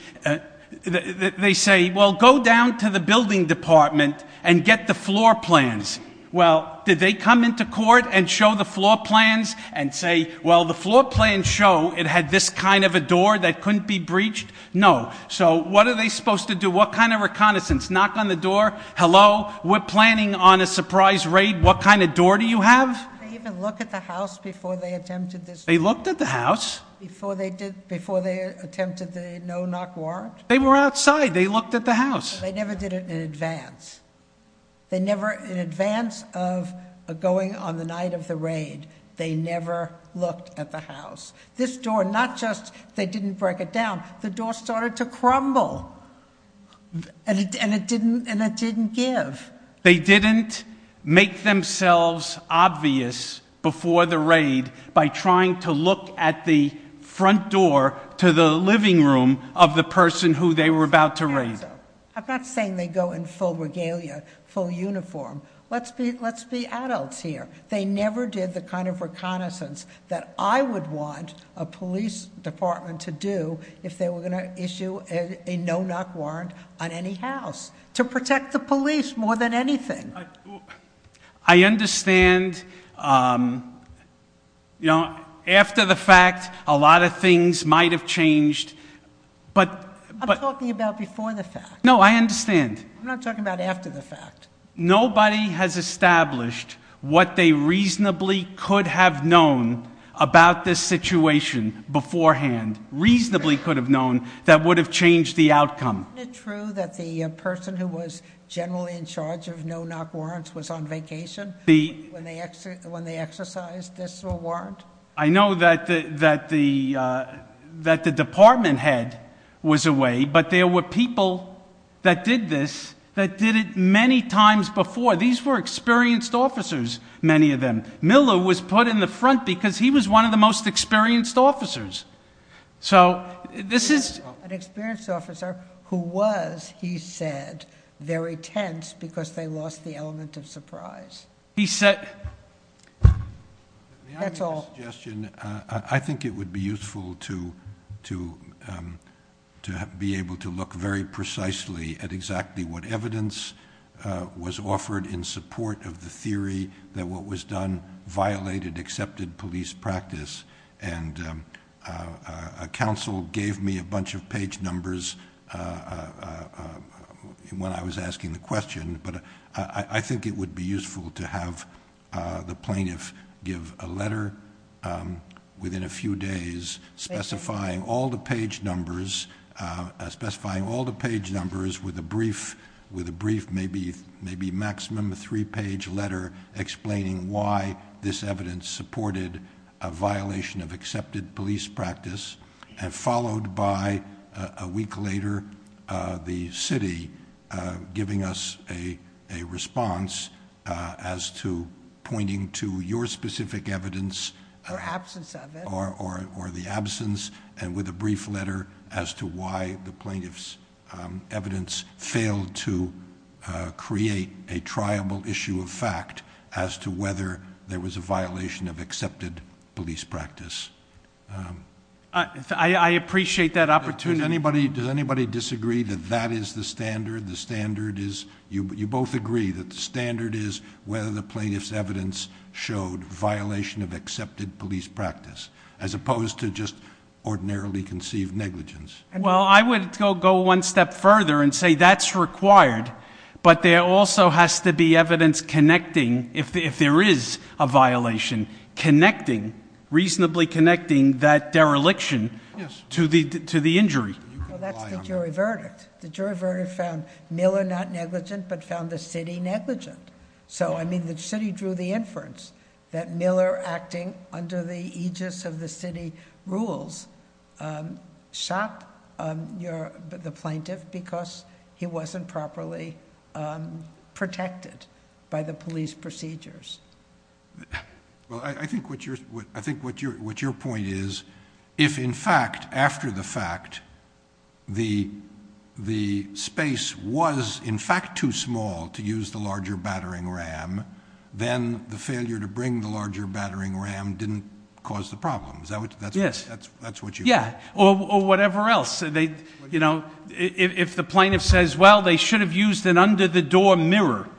They say, well, go down to the building department and get the floor plans. Well, did they come into court and show the floor plans and say, well, the floor plans show it had this kind of a door that couldn't be breached? No. So what are they supposed to do? What kind of reconnaissance? Knock on the door, hello, we're planning on a surprise raid. What kind of door do you have? Did they even look at the house before they attempted this? They looked at the house. Before they attempted the no-knock warrant? They were outside. They looked at the house. They never did it in advance. They never, in advance of going on the night of the raid, they never looked at the house. This door, not just they didn't break it down, the door started to crumble, and it didn't give. They didn't make themselves obvious before the raid by trying to look at the front door to the living room of the person who they were about to raid. I'm not saying they go in full regalia, full uniform. Let's be adults here. They never did the kind of reconnaissance that I would want a police department to do if they were going to issue a no-knock warrant on any house to protect the police more than anything. I understand. After the fact, a lot of things might have changed. I'm talking about before the fact. No, I understand. I'm not talking about after the fact. Nobody has established what they reasonably could have known about this situation beforehand, reasonably could have known, that would have changed the outcome. Isn't it true that the person who was generally in charge of no-knock warrants was on vacation when they exercised this warrant? I know that the department head was away, but there were people that did this that did it many times before. These were experienced officers, many of them. Miller was put in the front because he was one of the most experienced officers. This is... An experienced officer who was, he said, very tense because they lost the element of surprise. He said... That's all. May I make a suggestion? I think it would be useful to be able to look very precisely at exactly what evidence was offered in support of the theory that what was done violated accepted police practice. And counsel gave me a bunch of page numbers when I was asking the question, but I think it would be useful to have the plaintiff give a letter within a few days specifying all the page numbers with a brief, maybe maximum a three-page letter explaining why this evidence supported a violation of accepted police practice and followed by a week later the city giving us a response as to pointing to your specific evidence... Or absence of it. Or the absence and with a brief letter as to why the plaintiff's evidence failed to create a triable issue of fact as to whether there was a violation of accepted police practice. I appreciate that opportunity. Does anybody disagree that that is the standard? The standard is... You both agree that the standard is whether the plaintiff's evidence showed violation of accepted police practice as opposed to just ordinarily conceived negligence. Well, I would go one step further and say that's required, but there also has to be evidence connecting, if there is a violation, connecting, reasonably connecting that dereliction to the injury. Well, that's the jury verdict. The jury verdict found Miller not negligent but found the city negligent. So, I mean, the city drew the inference that Miller acting under the aegis of the city rules shot the plaintiff because he wasn't properly protected by the police procedures. Well, I think what your point is, if in fact, after the fact, the space was in fact too small to use the larger battering ram, then the failure to bring the larger battering ram didn't cause the problem. Yes. That's what you mean. Yeah. Or whatever else. You know, if the plaintiff says, well, they should have used an under-the-door mirror,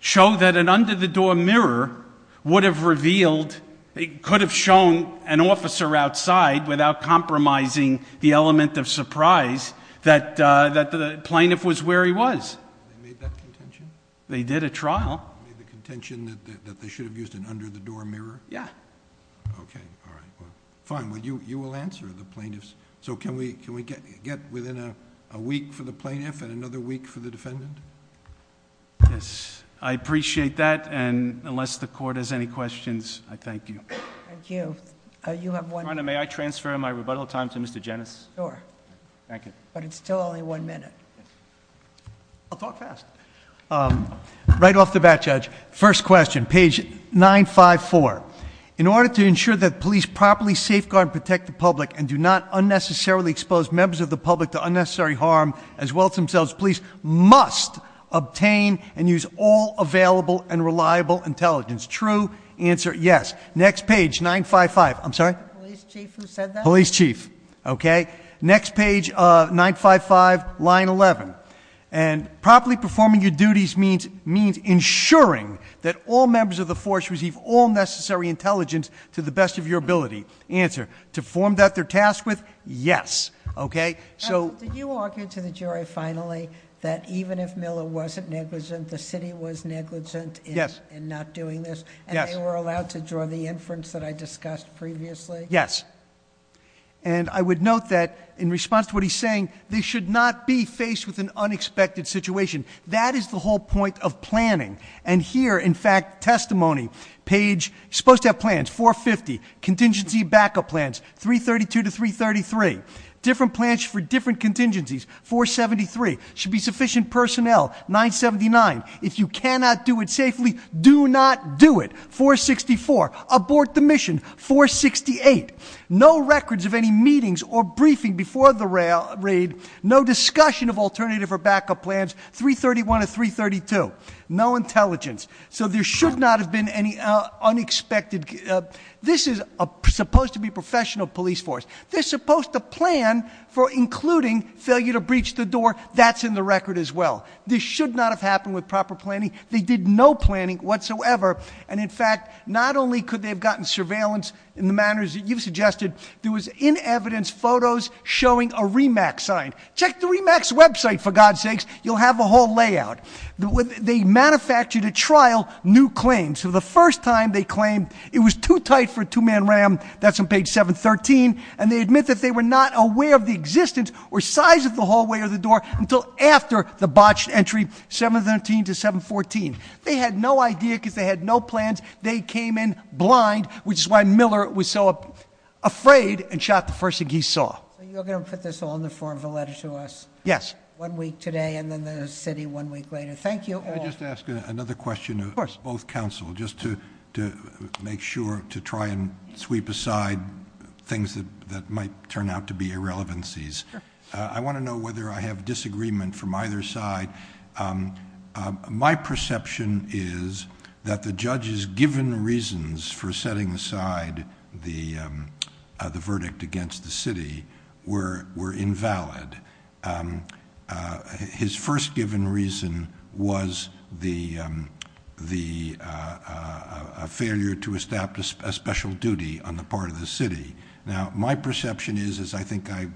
show that an under-the-door mirror would have revealed... it could have shown an officer outside without compromising the element of surprise that the plaintiff was where he was. They made that contention? They did at trial. They made the contention that they should have used an under-the-door mirror? Yeah. Okay. All right. Fine. Well, you will answer the plaintiff's... So, can we get within a week for the plaintiff and another week for the defendant? Yes. I appreciate that, and unless the Court has any questions, I thank you. Thank you. You have one... Your Honor, may I transfer my rebuttal time to Mr. Jennings? Sure. Thank you. But it's still only one minute. I'll talk fast. Right off the bat, Judge, first question, page 954. In order to ensure that police properly safeguard and protect the public and do not unnecessarily expose members of the public to unnecessary harm as well as themselves, police must obtain and use all available and reliable intelligence. True answer, yes. Next page, 955. I'm sorry? Police chief who said that? Police chief. Okay. Next page, 955, line 11. Properly performing your duties means ensuring that all members of the force receive all necessary intelligence to the best of your ability. Answer, to form that they're tasked with, yes. Okay? Did you argue to the jury finally that even if Miller wasn't negligent, the city was negligent in not doing this? Yes. And they were allowed to draw the inference that I discussed previously? Yes. And I would note that in response to what he's saying, they should not be faced with an unexpected situation. That is the whole point of planning. And here, in fact, testimony, page, you're supposed to have plans, 450. Contingency backup plans, 332 to 333. Different plans for different contingencies, 473. Should be sufficient personnel, 979. If you cannot do it safely, do not do it. 464, abort the mission, 468. No records of any meetings or briefing before the raid. No discussion of alternative or backup plans, 331 to 332. No intelligence. So there should not have been any unexpected, this is supposed to be professional police force. They're supposed to plan for including failure to breach the door, that's in the record as well. This should not have happened with proper planning. They did no planning whatsoever. And in fact, not only could they have gotten surveillance in the manners that you've suggested, there was in evidence photos showing a RE-MAX sign. Check the RE-MAX website, for God's sakes. You'll have a whole layout. They manufactured a trial, new claims. So the first time they claimed it was too tight for a two-man ram, that's on page 713. And they admit that they were not aware of the existence or size of the hallway or the door until after the botched entry, 713 to 714. They had no idea because they had no plans. They came in blind, which is why Miller was so afraid and shot the first thing he saw. So you're going to put this all in the form of a letter to us? Yes. One week today and then the city one week later. Thank you all. Can I just ask another question of both counsel, just to make sure to try and sweep aside things that might turn out to be irrelevancies. I want to know whether I have disagreement from either side. My perception is that the judge's given reasons for setting aside the verdict against the city were invalid. His first given reason was a failure to establish a special duty on the part of the city. Now, my perception is, as I think I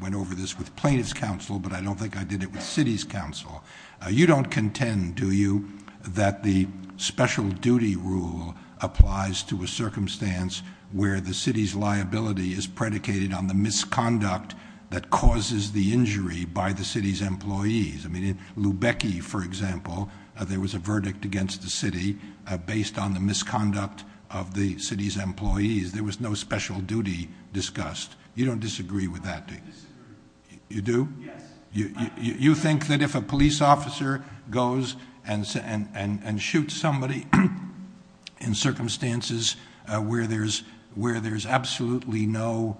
went over this with plaintiff's counsel, but I don't think I did it with city's counsel. You don't contend, do you, that the special duty rule applies to a circumstance where the city's liability is predicated on the misconduct that causes the injury by the city's employees. In Lubecki, for example, there was a verdict against the city based on the misconduct of the city's employees. There was no special duty discussed. You don't disagree with that, do you? I disagree. You do? Yes. You think that if a police officer goes and shoots somebody in circumstances where there's absolutely no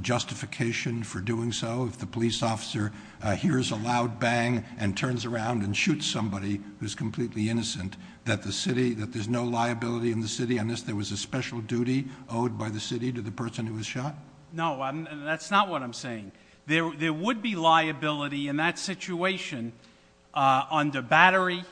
justification for doing so, if the police officer hears a loud bang and turns around and shoots somebody who's completely innocent, that there's no liability in the city unless there was a special duty owed by the city to the person who was shot? No, that's not what I'm saying. There would be liability in that situation under Battery,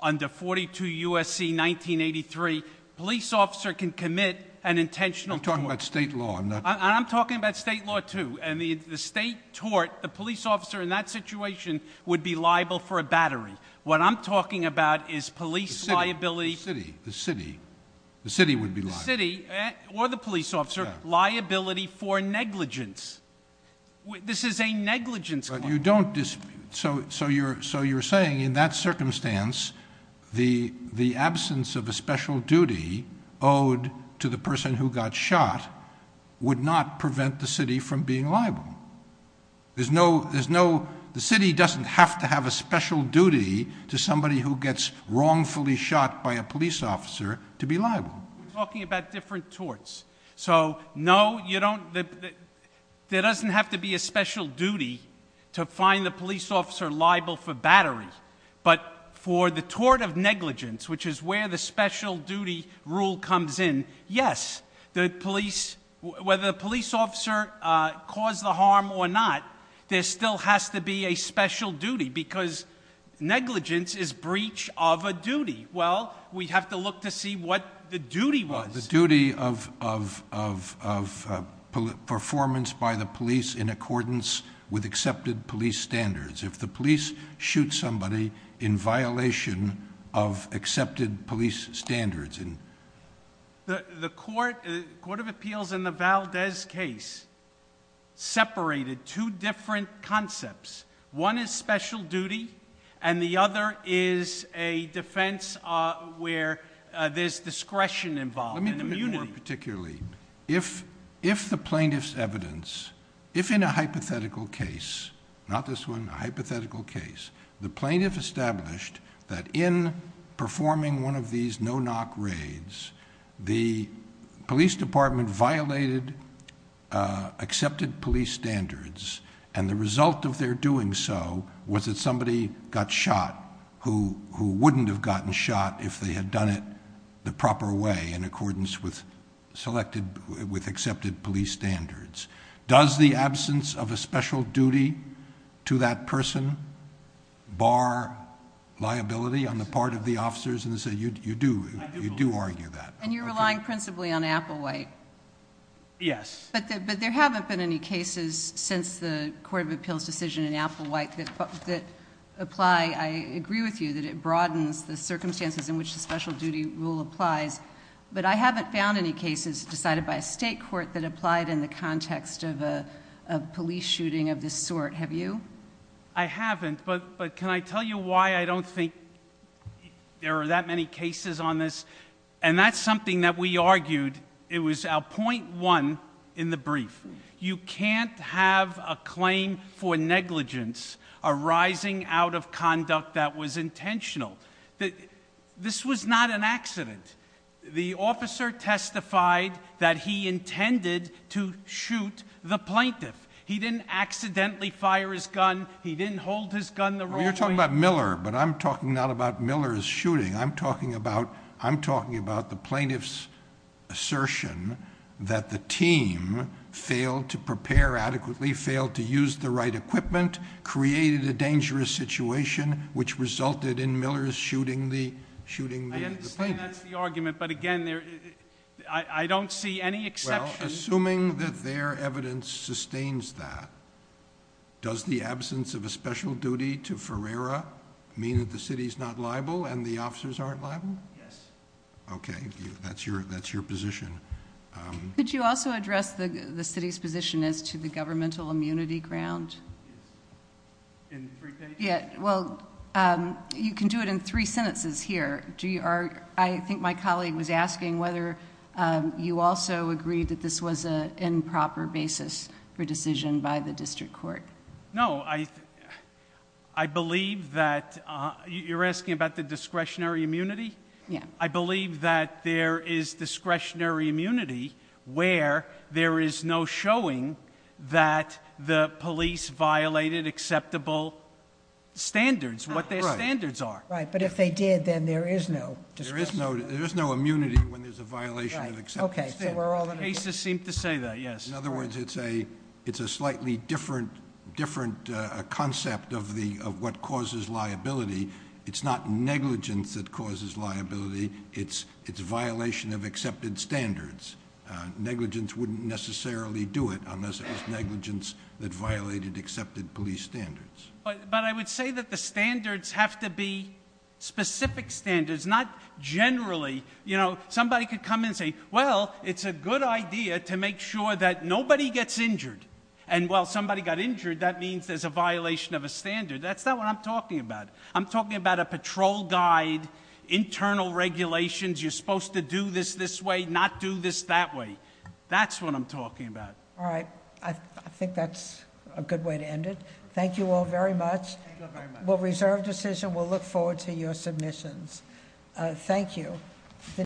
under 42 U.S.C. 1983. Police officer can commit an intentional crime. You're talking about state law. I'm talking about state law, too. And the state tort, the police officer in that situation would be liable for a Battery. What I'm talking about is police liability. The city. The city. The city would be liable. The city or the police officer, liability for negligence. This is a negligence claim. So you're saying in that circumstance, the absence of a special duty owed to the person who got shot would not prevent the city from being liable. There's no, the city doesn't have to have a special duty to somebody who gets wrongfully shot by a police officer to be liable. We're talking about different torts. So no, you don't, there doesn't have to be a special duty to find the police officer liable for Battery. But for the tort of negligence, which is where the special duty rule comes in, yes. The police, whether the police officer caused the harm or not, there still has to be a special duty. Because negligence is breach of a duty. Well, we have to look to see what the duty was. The duty of performance by the police in accordance with accepted police standards. If the police shoot somebody in violation of accepted police standards. The Court of Appeals in the Valdez case separated two different concepts. One is special duty and the other is a defense where there's discretion involved. Let me put it more particularly. If the plaintiff's evidence, if in a hypothetical case, not this one, a hypothetical case, the plaintiff established that in performing one of these no-knock raids, the police department violated accepted police standards. And the result of their doing so was that somebody got shot who wouldn't have gotten shot if they had done it the proper way in accordance with accepted police standards. Does the absence of a special duty to that person bar liability on the part of the officers? You do argue that. And you're relying principally on Applewhite? Yes. But there haven't been any cases since the Court of Appeals decision in Applewhite that apply. I agree with you that it broadens the circumstances in which the special duty rule applies. But I haven't found any cases decided by a state court that applied in the context of a police shooting of this sort. Have you? I haven't, but can I tell you why I don't think there are that many cases on this? And that's something that we argued. It was our point one in the brief. You can't have a claim for negligence arising out of conduct that was intentional. This was not an accident. The officer testified that he intended to shoot the plaintiff. He didn't accidentally fire his gun. He didn't hold his gun the wrong way. You're talking about Miller, but I'm talking not about Miller's shooting. I'm talking about the plaintiff's assertion that the team failed to prepare adequately, failed to use the right equipment, created a dangerous situation, which resulted in Miller's shooting the plaintiff. I understand that's the argument, but again, I don't see any exception. Well, assuming that their evidence sustains that, does the absence of a special duty to Ferreira mean that the city's not liable and the officers aren't liable? Yes. Okay. That's your position. Could you also address the city's position as to the governmental immunity ground? In three pages? Yeah. Well, you can do it in three sentences here. I think my colleague was asking whether you also agree that this was an improper basis for decision by the district court. No. I believe that... You're asking about the discretionary immunity? Yeah. I believe that there is discretionary immunity where there is no showing that the police violated acceptable standards, what their standards are. Right. But if they did, then there is no discretionary immunity. There is no immunity when there's a violation of acceptable standards. Right. Okay. So we're all in agreement. Cases seem to say that, yes. In other words, it's a slightly different concept of what causes liability. It's not negligence that causes liability. It's violation of accepted standards. Negligence wouldn't necessarily do it unless it was negligence that violated accepted police standards. But I would say that the standards have to be specific standards, not generally. Somebody could come in and say, well, it's a good idea to make sure that nobody gets injured. And while somebody got injured, that means there's a violation of a standard. That's not what I'm talking about. I'm talking about a patrol guide, internal regulations. You're supposed to do this this way, not do this that way. That's what I'm talking about. All right. I think that's a good way to end it. Thank you all very much. Thank you all very much. We'll reserve decision. We'll look forward to your submissions. Thank you.